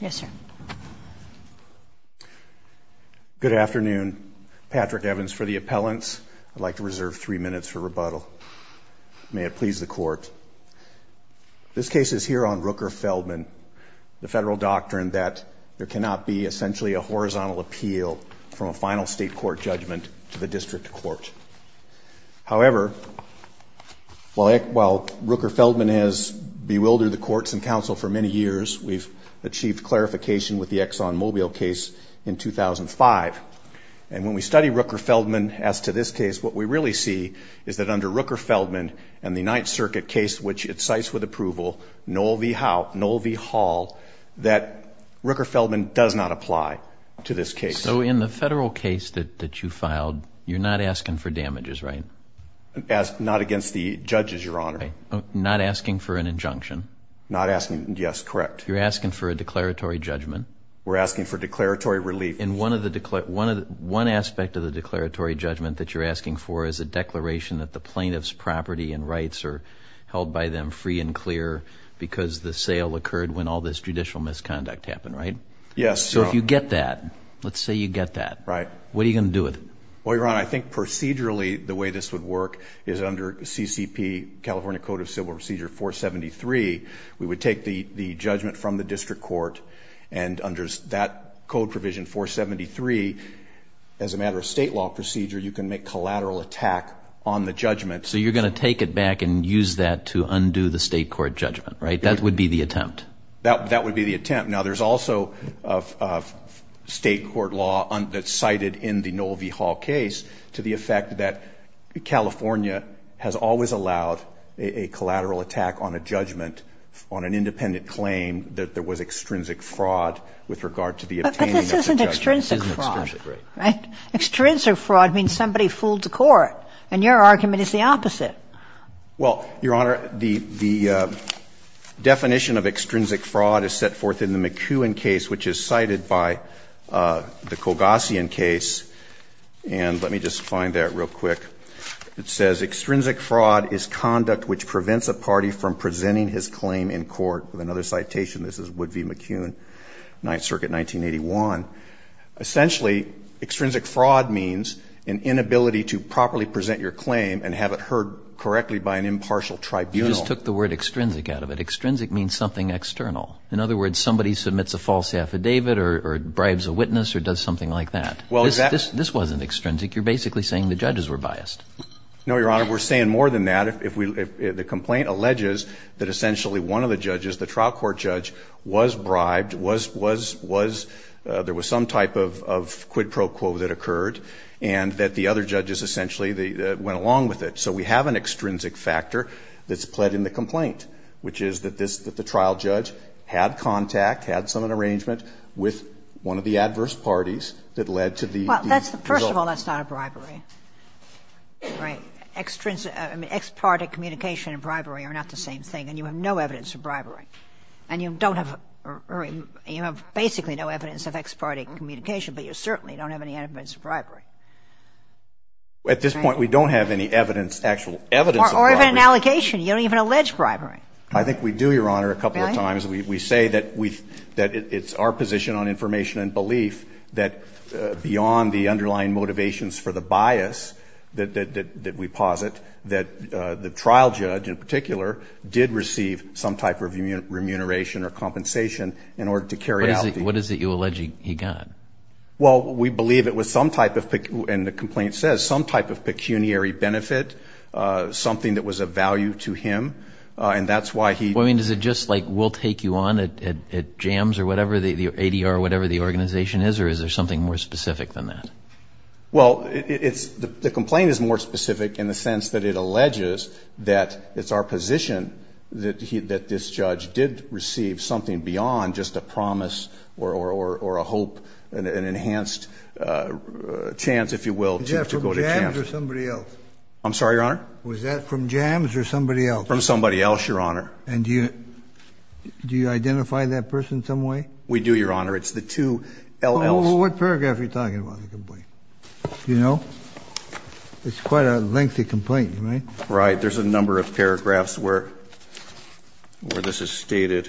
Yes sir. Good afternoon. Patrick Evans for the appellants. I'd like to reserve three minutes for rebuttal. May it please the court. This case is here on Rooker-Feldman, the federal doctrine that there cannot be essentially a horizontal appeal from a final state court judgment to the district court. However, while Rooker-Feldman has bewildered the courts and counsel for many years, it has been a controversial case. We've achieved clarification with the ExxonMobil case in 2005. And when we study Rooker-Feldman as to this case, what we really see is that under Rooker-Feldman and the Ninth Circuit case, which it cites with approval, null v. hall, that Rooker-Feldman does not apply to this case. So in the federal case that you filed, you're not asking for damages, right? Not against the judges, your honor. Not asking for an injunction? Not asking, yes, correct. You're asking for a declaratory judgment? We're asking for declaratory relief. And one aspect of the declaratory judgment that you're asking for is a declaration that the plaintiff's property and rights are held by them free and clear because the sale occurred when all this judicial misconduct happened, right? Yes, your honor. So if you get that, let's say you get that. Right. What are you going to do with it? Well, your honor, I think procedurally the way this would work is under CCP, California Code of Civil Procedure 473, we would take the judgment from the district court and under that code provision 473, as a matter of state law procedure, you can make collateral attack on the judgment. So you're going to take it back and use that to undo the state court judgment, right? That would be the attempt. That would be the attempt. Now, there's also state court law that's cited in the Noel v. Hall case to the effect that California has always allowed a collateral attack on a judgment on an independent claim that there was extrinsic fraud with regard to the obtaining of the judgment. But this isn't extrinsic fraud, right? Extrinsic fraud means somebody fooled the court. And your argument is the opposite. Well, your honor, the definition of extrinsic fraud is set forth in the McEwen case, which is cited by the Kogossian case. And let me just find that real quick. It says, extrinsic fraud is conduct which prevents a party from presenting his claim in court. Another citation. This is Wood v. McEwen, Ninth Circuit, 1981. Essentially, extrinsic fraud means an inability to properly present your claim and have it heard correctly by an impartial tribunal. You just took the word extrinsic out of it. Extrinsic means something external. In other words, somebody submits a false affidavit or bribes a witness or does something like that. This wasn't extrinsic. You're basically saying the judges were biased. No, your honor. We're saying more than that. The complaint alleges that essentially one of the judges, the trial court judge, was bribed, was, was, was, there was some type of quid pro quo that occurred and that the other judges essentially went along with it. So we have an extrinsic factor that's pled in the complaint, which is that this, that the trial judge had contact, had some arrangement with one of the adverse parties that led to the result. Well, first of all, that's not a bribery. Right. Extrinsic, I mean, ex-parte communication and bribery are not the same thing. And you have no evidence of bribery. And you don't have, you have basically no evidence of ex-parte communication, but you certainly don't have any evidence of bribery. At this point, we don't have any evidence, actual evidence of bribery. Or even an allegation. You don't even allege bribery. I think we do, your honor, a couple of times. We say that we, that it's our position on information and belief that beyond the underlying motivations for the bias that we posit, that the trial judge, in particular, did receive some type of remuneration or compensation in order to carry out the. What is it you allege he got? Well, we believe it was some type of, and the complaint says, some type of pecuniary benefit, something that was of value to him. And that's why he. Well, I mean, is it just like we'll take you on at jams or whatever, the ADR or whatever the organization is, or is there something more specific than that? Well, it's, the complaint is more specific in the sense that it alleges that it's our position that he, that this judge did receive something beyond just a promise or, or, or a hope and an enhanced chance, if you will, to go to jail. Somebody else. I'm sorry, your honor. Was that from jams or somebody else? From somebody else, your honor. And do you, do you identify that person some way? We do, your honor. It's the two LLs. What paragraph are you talking about in the complaint? Do you know? It's quite a lengthy complaint, right? Right. There's a number of paragraphs where, where this is stated.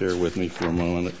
Bear with me for a moment.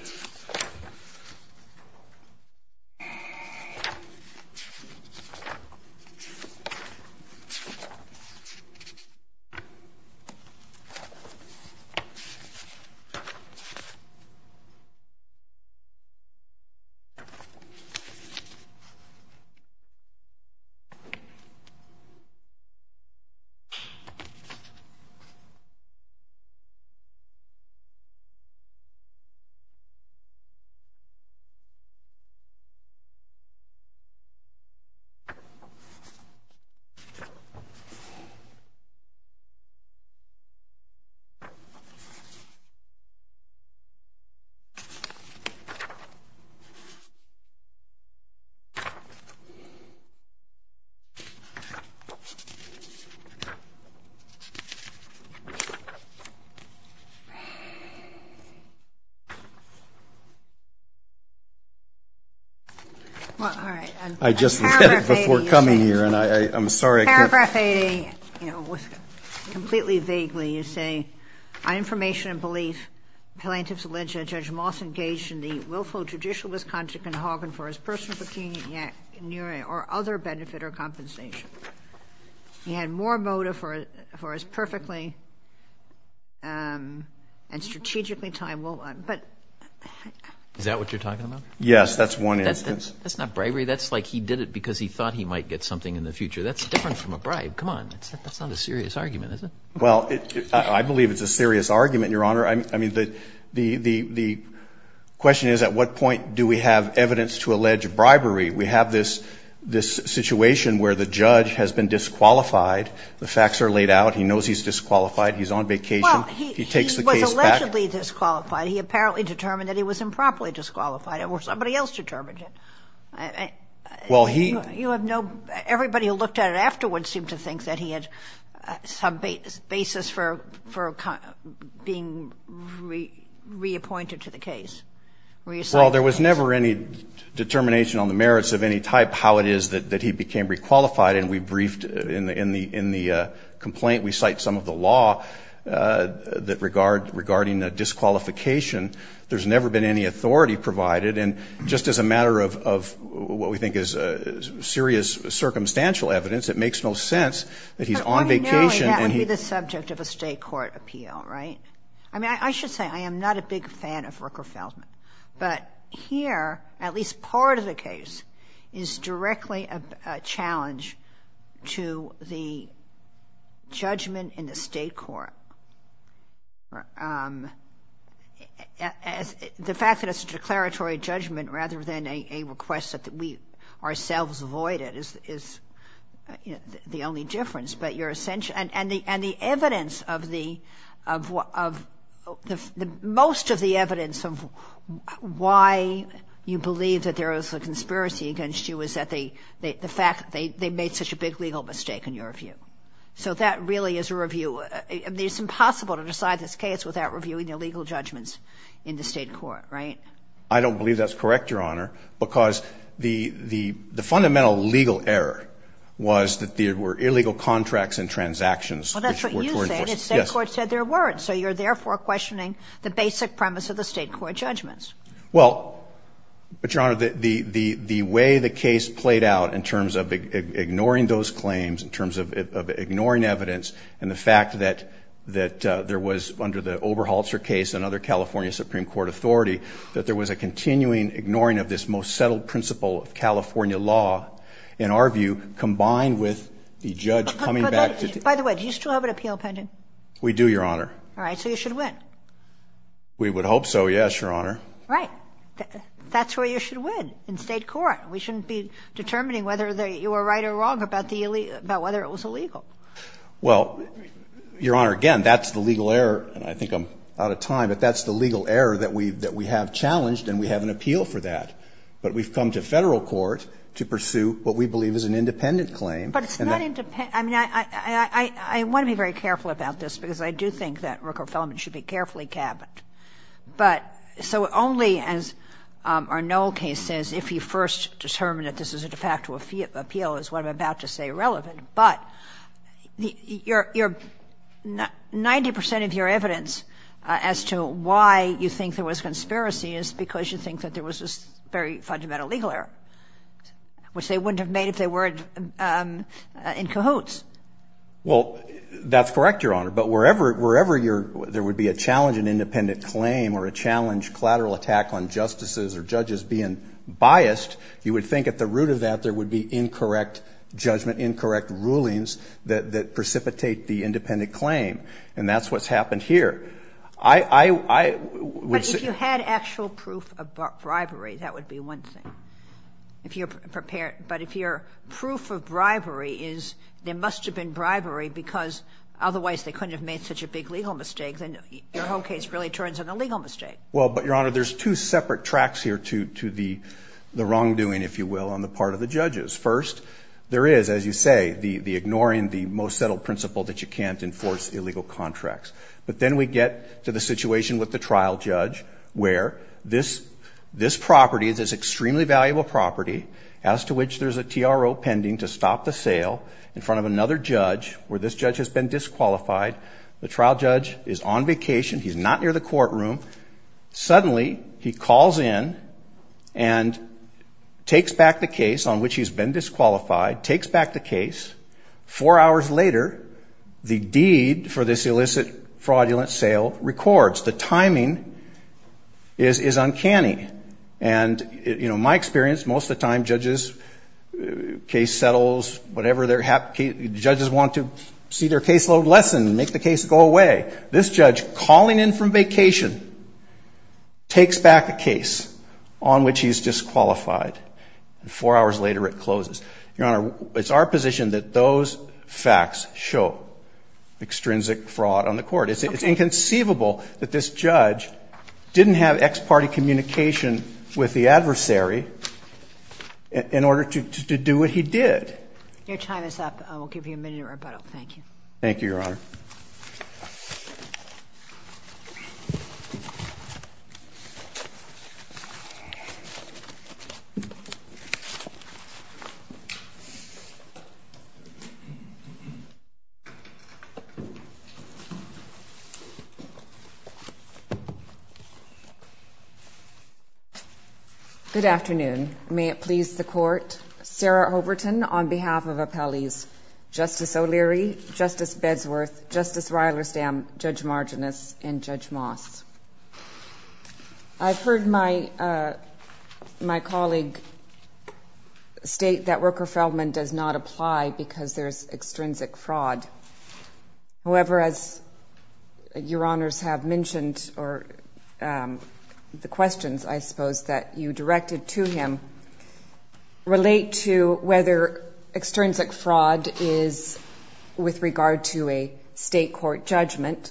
Okay. All right. I just, before coming here, and I, I'm sorry. Paragraph A, you know, was completely vaguely, you say, on information and belief, plaintiff's alleged that Judge Moss engaged in the willful, judicial misconduct in Harbin for his personal pecuniary or other benefit or compensation. He had more motive for his perfectly and strategically timed willful, but. Is that what you're talking about? Yes, that's one instance. That's not bribery. That's like he did it because he thought he might get something in the future. That's different from a bribe. Come on. That's not a serious argument, is it? Well, I believe it's a serious argument, Your Honor. I mean, the, the, the, the question is at what point do we have evidence to allege bribery? We have this, this situation where the judge has been disqualified. The facts are laid out. He knows he's disqualified. He's on vacation. He takes the case back. Well, he was allegedly disqualified. He apparently determined that he was improperly disqualified, or somebody else determined it. Well, he. You have no. Everybody who looked at it afterwards seemed to think that he had some basis for, for being reappointed to the case, reassigned. Well, there was never any determination on the merits of any type how it is that, that he became requalified. And we briefed in the, in the, in the complaint, we cite some of the law that regard, regarding a disqualification. There's never been any authority provided. And just as a matter of, of what we think is serious circumstantial evidence, it makes no sense that he's on vacation and he. That would be the subject of a state court appeal, right? I mean, I should say I am not a big fan of Rooker Feldman. But here, at least part of the case, is directly a challenge to the judgment in the state court. As, the fact that it's a declaratory judgment rather than a, a request that we ourselves avoid it is, is the only difference. But your, and, and the, and the evidence of the, of what, of the, most of the evidence of why you believe that there is a conspiracy against you is that they, the fact that they, they made such a big legal mistake, in your view. So that really is a review. It's impossible to decide this case without reviewing the legal judgments in the state court, right? I don't believe that's correct, Your Honor. Because the, the, the fundamental legal error was that there were illegal contracts and transactions. Well, that's what you said. The state court said there weren't. So you're therefore questioning the basic premise of the state court judgments. Well, but Your Honor, the, the, the way the case played out in terms of ignoring those claims, in terms of, of ignoring evidence, and the fact that, that there was, under the Oberholzer case and other California Supreme Court authority, that there was a continuing ignoring of this most settled principle of California law, in our view, combined with the judge coming back to. By the way, do you still have an appeal pending? We do, Your Honor. All right. So you should win. We would hope so, yes, Your Honor. Right. That's where you should win, in state court. We shouldn't be determining whether you were right or wrong about the, about whether it was illegal. Well, Your Honor, again, that's the legal error, and I think I'm out of time, but that's the legal error that we, that we have challenged, and we have an appeal for that. But we've come to Federal court to pursue what we believe is an independent claim. But it's not independent. I mean, I, I, I, I want to be very careful about this, because I do think that Rooker-Fellman should be carefully cabbed. But, so only, as our Noel case says, if you first determine that this is a de facto appeal, is what I'm about to say relevant. But you're, you're, 90% of your evidence as to why you think there was conspiracy is because you think that there was this very fundamental legal error, which they wouldn't have made if they were in cahoots. Well, that's correct, Your Honor. But wherever, wherever your, there would be a challenge in independent claim or a challenge collateral attack on justices or judges being biased, you would think at the root of that there would be incorrect judgment, incorrect rulings that, that precipitate the independent claim. And that's what's happened here. I, I, I would say. But if you had actual proof of bribery, that would be one thing, if you're prepared. But if your proof of bribery is there must have been bribery because otherwise they couldn't have made such a big legal mistake, then your whole case really turns into a legal mistake. Well, but, Your Honor, there's two separate tracks here to, to the, the wrongdoing, if you will, on the part of the judges. First, there is, as you say, the, the ignoring the most settled principle that you can't enforce illegal contracts. But then we get to the situation with the trial judge where this, this property, this extremely valuable property, as to which there's a TRO pending to stop the sale in front of another judge where this judge has been disqualified. The trial judge is on vacation. He's not near the courtroom. Suddenly he calls in and takes back the case on which he's been disqualified, takes back the case. Four hours later, the deed for this illicit fraudulent sale records. The timing is, is uncanny. And, you know, my experience, most of the time judges, case settles, whatever they're happy, judges want to see their caseload lessened and make the case go away. This judge calling in from vacation takes back a case on which he's disqualified. Four hours later it closes. Your Honor, it's our position that those facts show extrinsic fraud on the court. It's inconceivable that this judge didn't have ex parte communication with the adversary in order to do what he did. Your time is up. I will give you a minute of rebuttal. Thank you. Thank you, Your Honor. Thank you. Good afternoon. May it please the court. Sarah Overton on behalf of appellees, Justice O'Leary, Justice Bedsworth, Justice Rylersdam, Judge Marginis, and Judge Moss. I've heard my colleague state that Roker Feldman does not apply because there's extrinsic fraud. However, as Your Honors have mentioned or the questions, I suppose, that you relate to whether extrinsic fraud is with regard to a state court judgment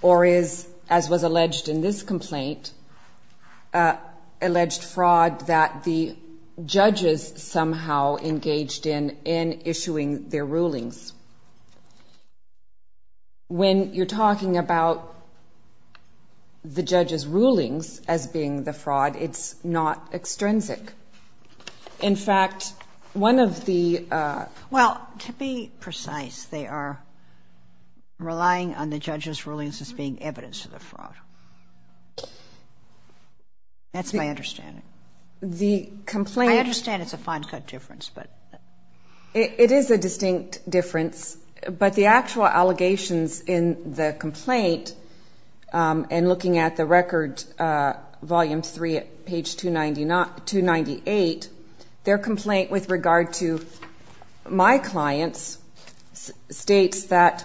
or is, as was alleged in this complaint, alleged fraud that the judges somehow engaged in in issuing their rulings. When you're talking about the judges' rulings as being the fraud, it's not extrinsic. In fact, one of the – Well, to be precise, they are relying on the judges' rulings as being evidence of the fraud. That's my understanding. The complaint – I understand it's a fine cut difference, but – It is a distinct difference, but the actual allegations in the complaint and looking at the record, Volume 3 at page 298, their complaint with regard to my clients states that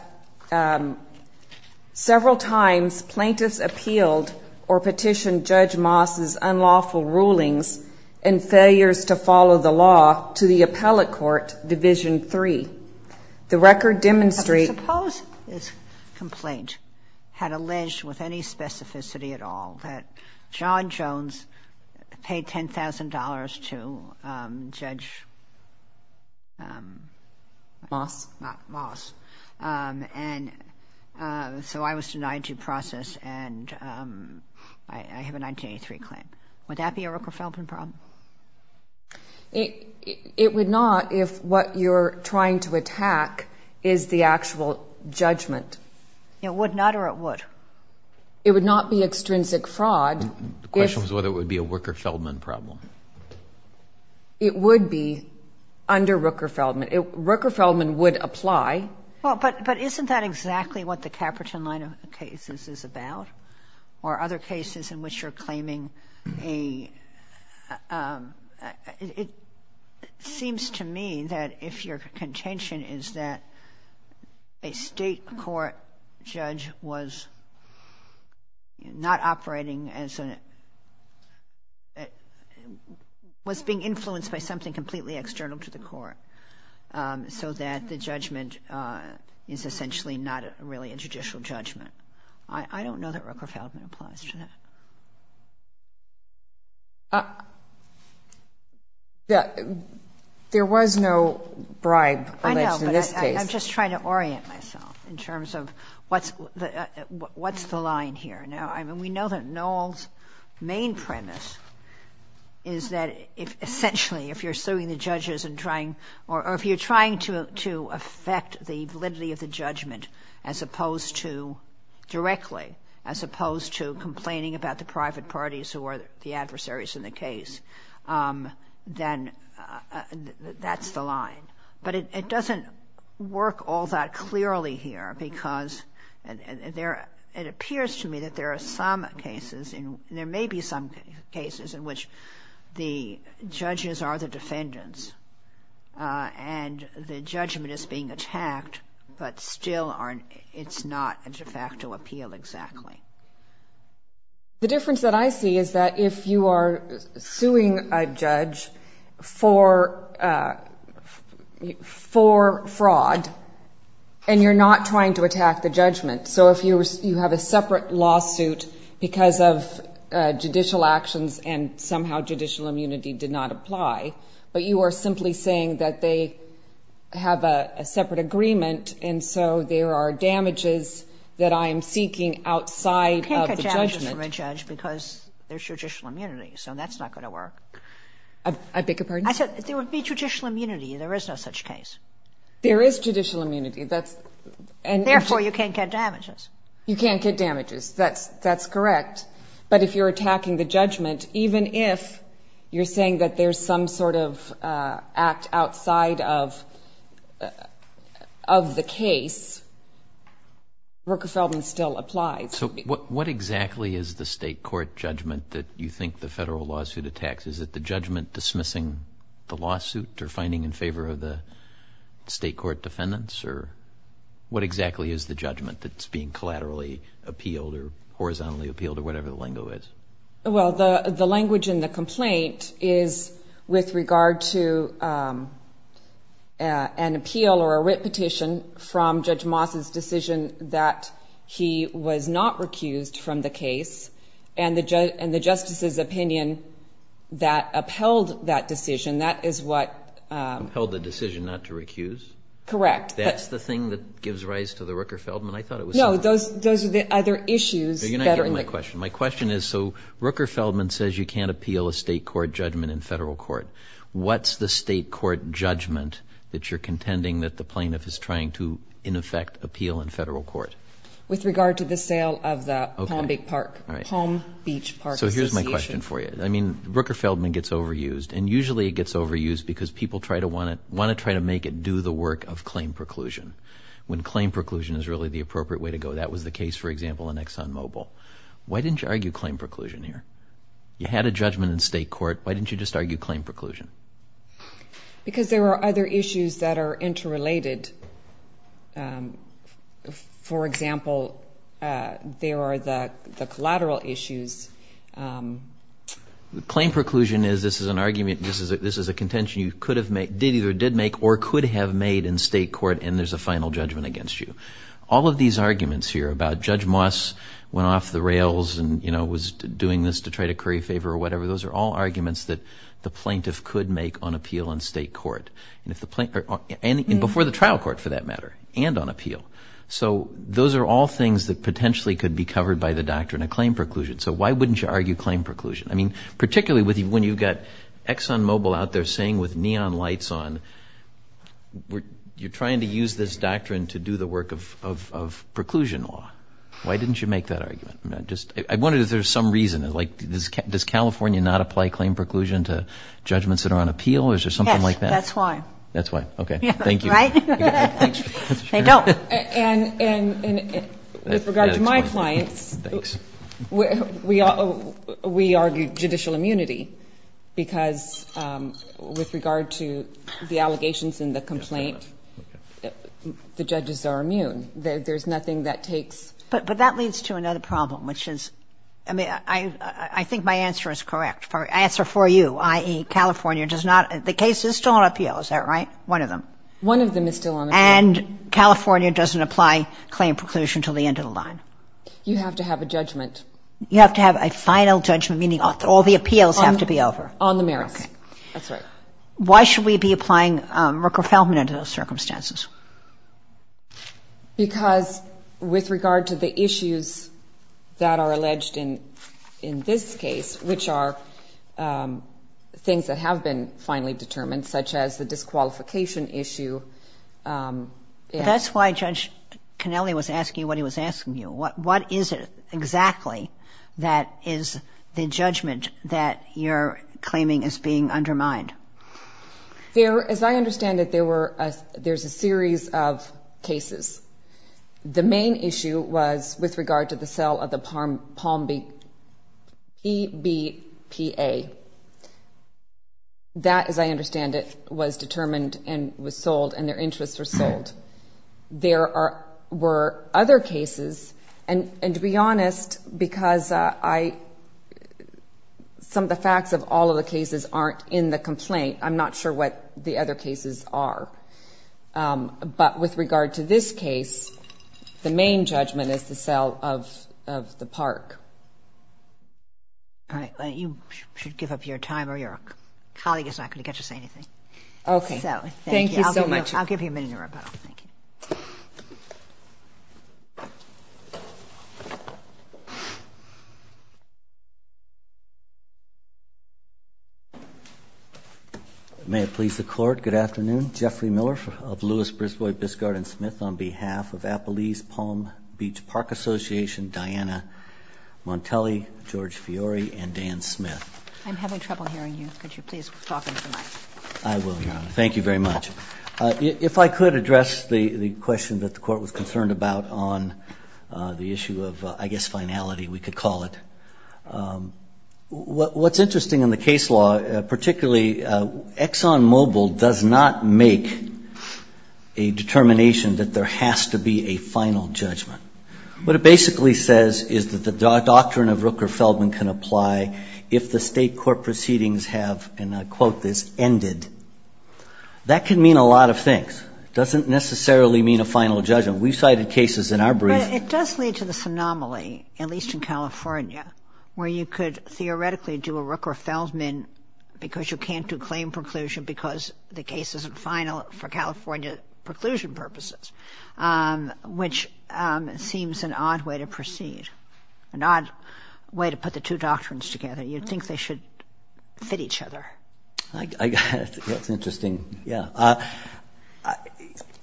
several times plaintiffs appealed or petitioned Judge Moss' unlawful rulings and failures to follow the law to the appellate court, Division 3. The record demonstrates – I suppose this complaint had alleged with any specificity at all that John Jones paid $10,000 to Judge – Moss. And so I was denied due process and I have a 1983 claim. Would that be a Rooker-Feldman problem? It would not if what you're trying to attack is the actual judgment. It would not or it would? It would not be extrinsic fraud if – The question was whether it would be a Rooker-Feldman problem. It would be under Rooker-Feldman. Rooker-Feldman would apply. Well, but isn't that exactly what the Caperton line of cases is about or other cases in which you're claiming a – It seems to me that if your contention is that a state court judge was not so that the judgment is essentially not really a judicial judgment. I don't know that Rooker-Feldman applies to that. There was no bribe alleged in this case. I know, but I'm just trying to orient myself in terms of what's the line here. Now, I mean, we know that Noel's main premise is that essentially if you're trying to affect the validity of the judgment as opposed to directly, as opposed to complaining about the private parties who are the adversaries in the case, then that's the line. But it doesn't work all that clearly here because it appears to me that there are some cases and there may be some cases in which the judges are the and the judgment is being attacked, but still it's not a de facto appeal exactly. The difference that I see is that if you are suing a judge for fraud and you're not trying to attack the judgment, so if you have a separate lawsuit because of judicial actions and somehow judicial immunity did not apply, but you are simply saying that they have a separate agreement and so there are damages that I am seeking outside of the judgment. You can't get damages from a judge because there's judicial immunity, so that's not going to work. I beg your pardon? I said there would be judicial immunity. There is no such case. There is judicial immunity. Therefore, you can't get damages. You can't get damages. That's correct. But if you're attacking the judgment, even if you're saying that there's some sort of act outside of the case, Rooker-Feldman still applies. So what exactly is the state court judgment that you think the federal lawsuit attacks? Is it the judgment dismissing the lawsuit or finding in favor of the state court defendants? Or what exactly is the judgment that's being collaterally appealed or horizontally appealed or whatever the lingo is? Well, the language in the complaint is with regard to an appeal or a writ petition from Judge Moss's decision that he was not recused from the case and the justice's opinion that upheld that decision, that is what ---- Upheld the decision not to recuse? Correct. That's the thing that gives rise to the Rooker-Feldman? No, those are the other issues. You're not getting my question. My question is, so Rooker-Feldman says you can't appeal a state court judgment in federal court. What's the state court judgment that you're contending that the plaintiff is trying to, in effect, appeal in federal court? With regard to the sale of the Palm Beach Park Association. So here's my question for you. I mean, Rooker-Feldman gets overused, and usually it gets overused because people want to try to make it do the work of claim preclusion when claim preclusion is really the appropriate way to go. That was the case, for example, in Exxon Mobil. Why didn't you argue claim preclusion here? You had a judgment in state court. Why didn't you just argue claim preclusion? Because there are other issues that are interrelated. For example, there are the collateral issues. Claim preclusion is this is an argument, this is a contention you could have made, or could have made in state court, and there's a final judgment against you. All of these arguments here about Judge Moss went off the rails and was doing this to try to curry favor or whatever, those are all arguments that the plaintiff could make on appeal in state court, and before the trial court, for that matter, and on appeal. So those are all things that potentially could be covered by the doctrine of claim preclusion. So why wouldn't you argue claim preclusion? I mean, particularly when you've got Exxon Mobil out there that you're seeing with neon lights on, you're trying to use this doctrine to do the work of preclusion law. Why didn't you make that argument? I wonder if there's some reason. Like, does California not apply claim preclusion to judgments that are on appeal, or is there something like that? Yes, that's why. That's why. Okay. Thank you. Right? They don't. And with regard to my clients, we argue judicial immunity, because with regard to the allegations in the complaint, the judges are immune. There's nothing that takes ---- But that leads to another problem, which is, I mean, I think my answer is correct. My answer for you, i.e., California does not ---- the case is still on appeal. Is that right? One of them. One of them is still on appeal. And California doesn't apply claim preclusion until the end of the line. You have to have a judgment. You have to have a final judgment, meaning all the appeals have to be over. On the merits. Okay. That's right. Why should we be applying Merkel-Feldman under those circumstances? Because with regard to the issues that are alleged in this case, which are things that have been finally determined, such as the disqualification issue ---- That's why Judge Connelly was asking you what he was asking you. What is it exactly that is the judgment that you're claiming is being undermined? As I understand it, there's a series of cases. The main issue was with regard to the sale of the Palm Beach EBPA. That, as I understand it, was determined and was sold, and their interests were sold. There were other cases. And to be honest, because some of the facts of all of the cases aren't in the complaint, I'm not sure what the other cases are. But with regard to this case, the main judgment is the sale of the park. All right. You should give up your time, or your colleague is not going to get to say anything. Okay. Thank you so much. I'll give you a minute in your rebuttal. Thank you. May it please the Court, good afternoon. Jeffrey Miller of Lewis, Brisbois, Biscard & Smith on behalf of Appalese Palm Beach Park Association, Diana Montelli, George Fiore, and Dan Smith. I'm having trouble hearing you. Could you please talk into the mic? I will, Your Honor. Thank you very much. If I could address the question that the Court was concerned about on the issue of, I guess, finality, we could call it. What's interesting in the case law, particularly ExxonMobil does not make a determination that there has to be a final judgment. What it basically says is that the doctrine of Rooker-Feldman can apply if the State court proceedings have, and I quote this, ended. That can mean a lot of things. It doesn't necessarily mean a final judgment. We've cited cases in our brief. It does lead to this anomaly, at least in California, where you could theoretically do a Rooker-Feldman because you can't do claim preclusion because the case isn't final for California preclusion purposes, which seems an odd way to proceed, an odd way to put the two doctrines together. You'd think they should fit each other. That's interesting. Yeah.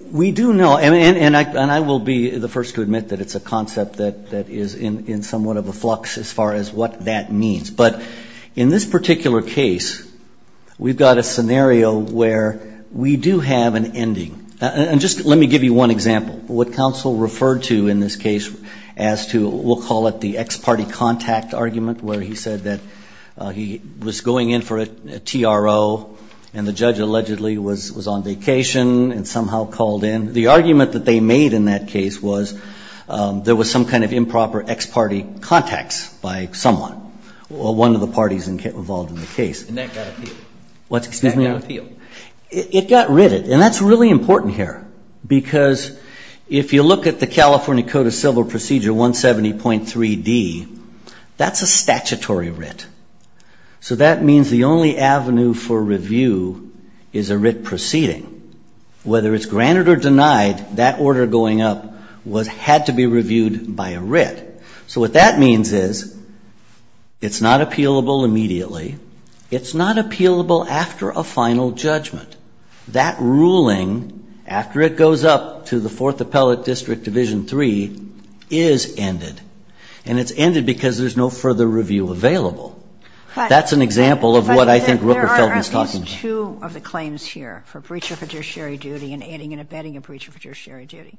We do know, and I will be the first to admit that it's a concept that is in somewhat of a flux as far as what that means. But in this particular case, we've got a scenario where we do have an ending. And just let me give you one example. What counsel referred to in this case as to, we'll call it the ex parte contact argument where he said that he was going in for a TRO and the judge allegedly was on vacation and somehow called in. The argument that they made in that case was there was some kind of improper ex parte contacts by someone, or one of the parties involved in the case. And that got appealed. What? And that got appealed. It got written, and that's really important here because if you look at the California Code of Civil Procedure 170.3D, that's a statutory writ. So that means the only avenue for review is a writ proceeding. Whether it's granted or denied, that order going up had to be reviewed by a writ. So what that means is it's not appealable immediately. It's not appealable after a final judgment. That ruling, after it goes up to the Fourth Appellate District Division 3, is ended. And it's ended because there's no further review available. That's an example of what I think Rooker-Feldman is talking about. But there are at least two of the claims here for breacher fiduciary duty and adding and abetting a breacher fiduciary duty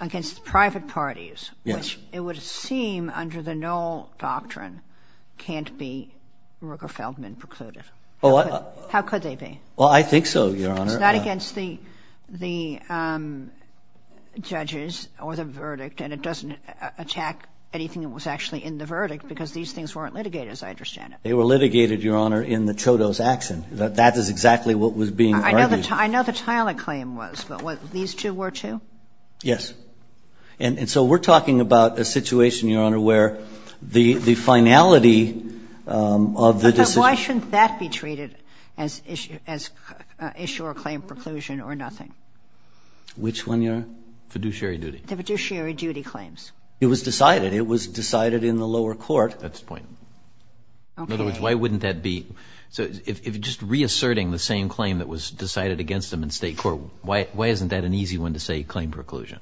against private parties, which it would seem under the null doctrine can't be Rooker-Feldman precluded. How could they be? Well, I think so, Your Honor. It's not against the judges or the verdict, and it doesn't attack anything that was actually in the verdict because these things weren't litigated, as I understand it. They were litigated, Your Honor, in the Chodo's action. That is exactly what was being argued. I know the Tyler claim was, but these two were, too? Yes. And so we're talking about a situation, Your Honor, where the finality of the decision Why shouldn't that be treated as issue or claim preclusion or nothing? Which one, Your Honor? Fiduciary duty. The fiduciary duty claims. It was decided. It was decided in the lower court. That's the point. Okay. In other words, why wouldn't that be? So if just reasserting the same claim that was decided against them in State court, why isn't that an easy one to say claim preclusion?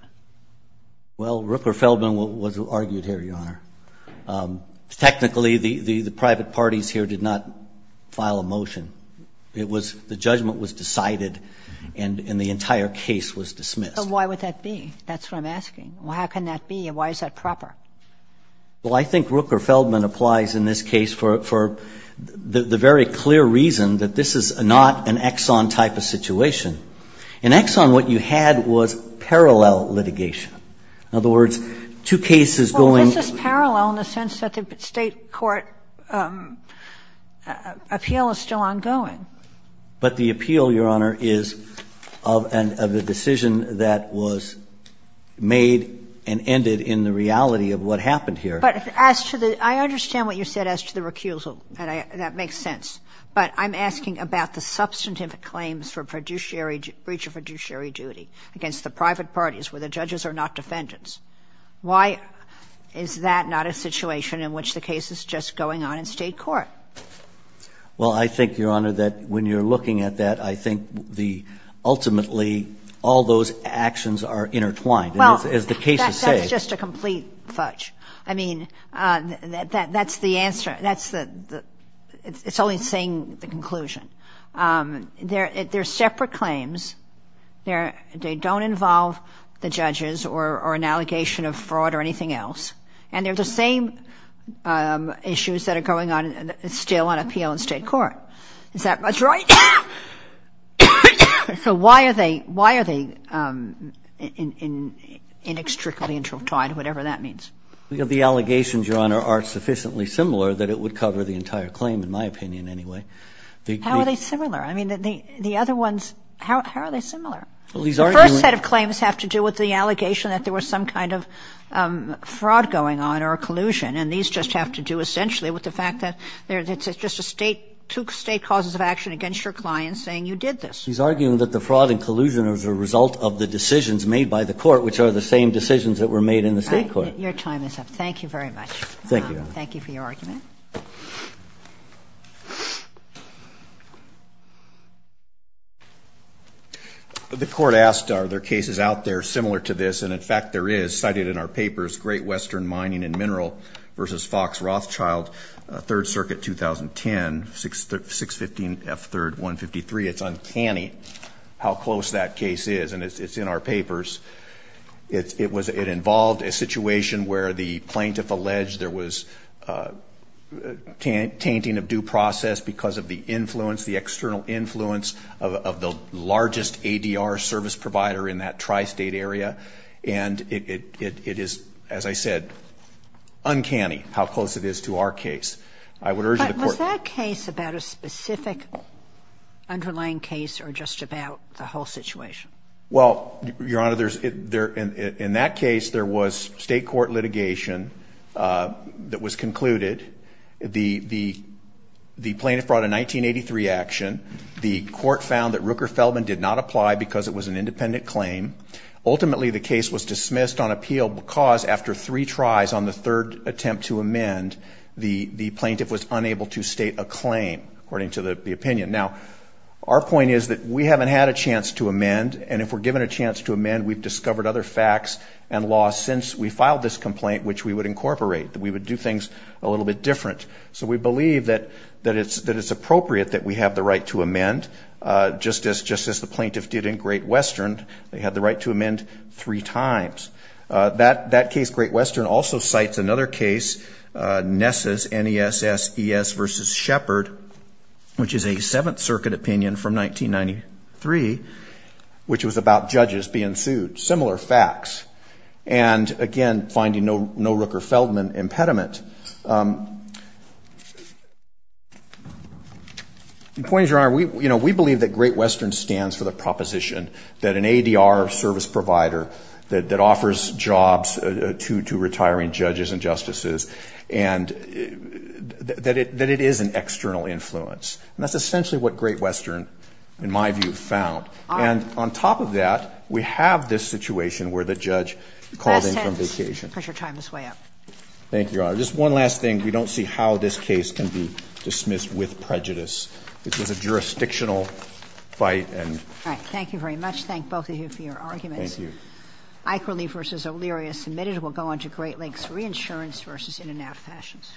Well, Rooker-Feldman was argued here, Your Honor. Technically, the private parties here did not file a motion. It was the judgment was decided and the entire case was dismissed. But why would that be? That's what I'm asking. How can that be? Why is that proper? Well, I think Rooker-Feldman applies in this case for the very clear reason that this is not an Exxon type of situation. In Exxon, what you had was parallel litigation. In other words, two cases going This is parallel in the sense that the State court appeal is still ongoing. But the appeal, Your Honor, is of the decision that was made and ended in the reality of what happened here. But as to the – I understand what you said as to the recusal. That makes sense. But I'm asking about the substantive claims for breach of fiduciary duty against the private parties where the judges are not defendants. Why is that not a situation in which the case is just going on in State court? Well, I think, Your Honor, that when you're looking at that, I think the – ultimately, all those actions are intertwined. Well, that's just a complete fudge. I mean, that's the answer. That's the – it's only saying the conclusion. They're separate claims. They don't involve the judges or an allegation of fraud or anything else. And they're the same issues that are going on still on appeal in State court. Is that much right? So why are they – why are they inextricably intertwined, whatever that means? The allegations, Your Honor, are sufficiently similar that it would cover the entire claim, in my opinion, anyway. How are they similar? I mean, the other ones, how are they similar? The first set of claims have to do with the allegation that there was some kind of fraud going on or collusion, and these just have to do essentially with the fact that there's just a State – two State causes of action against your client saying you did this. He's arguing that the fraud and collusion is a result of the decisions made by the court, which are the same decisions that were made in the State court. Your time is up. Thank you very much. Thank you, Your Honor. Thank you for your argument. The court asked are there cases out there similar to this, and in fact there is. Cited in our papers, Great Western Mining and Mineral v. Fox Rothschild, Third Circuit, 2010, 615 F. 3rd 153. It's uncanny how close that case is, and it's in our papers. It was – it involved a situation where the plaintiff alleged there was some tainting of due process because of the influence, the external influence of the largest ADR service provider in that tri-State area, and it is, as I said, uncanny how close it is to our case. I would urge the court – But was that case about a specific underlying case or just about the whole situation? Well, Your Honor, in that case, there was State court litigation that was concluded. The plaintiff brought a 1983 action. The court found that Rooker-Feldman did not apply because it was an independent claim. Ultimately, the case was dismissed on appeal because after three tries on the third attempt to amend, the plaintiff was unable to state a claim, according to the opinion. Now, our point is that we haven't had a chance to amend, and if we're given a chance to amend, we've discovered other facts and laws since we filed this complaint which we would incorporate, that we would do things a little bit different. So we believe that it's appropriate that we have the right to amend, just as the plaintiff did in Great Western. They had the right to amend three times. That case, Great Western, also cites another case, Ness's, N-E-S-S-E-S v. Shepard, which is a Seventh Circuit opinion from 1993, which was about judges being sued. Similar facts. And, again, finding no Rooker-Feldman impediment. The point is, Your Honor, we believe that Great Western stands for the proposition that an ADR service provider that offers jobs to retiring judges and justices, and that it is an external influence. And that's essentially what Great Western, in my view, found. And on top of that, we have this situation where the judge called in from vacation. Kagan. Pressure time is way up. Thank you, Your Honor. Just one last thing. We don't see how this case can be dismissed with prejudice. This was a jurisdictional fight and ‑‑ All right. Thank you very much. Thank both of you for your arguments. Thank you. Aikerle v. O'Leary is submitted. We'll go on to Great Lakes Reinsurance v. In and Out Fashions.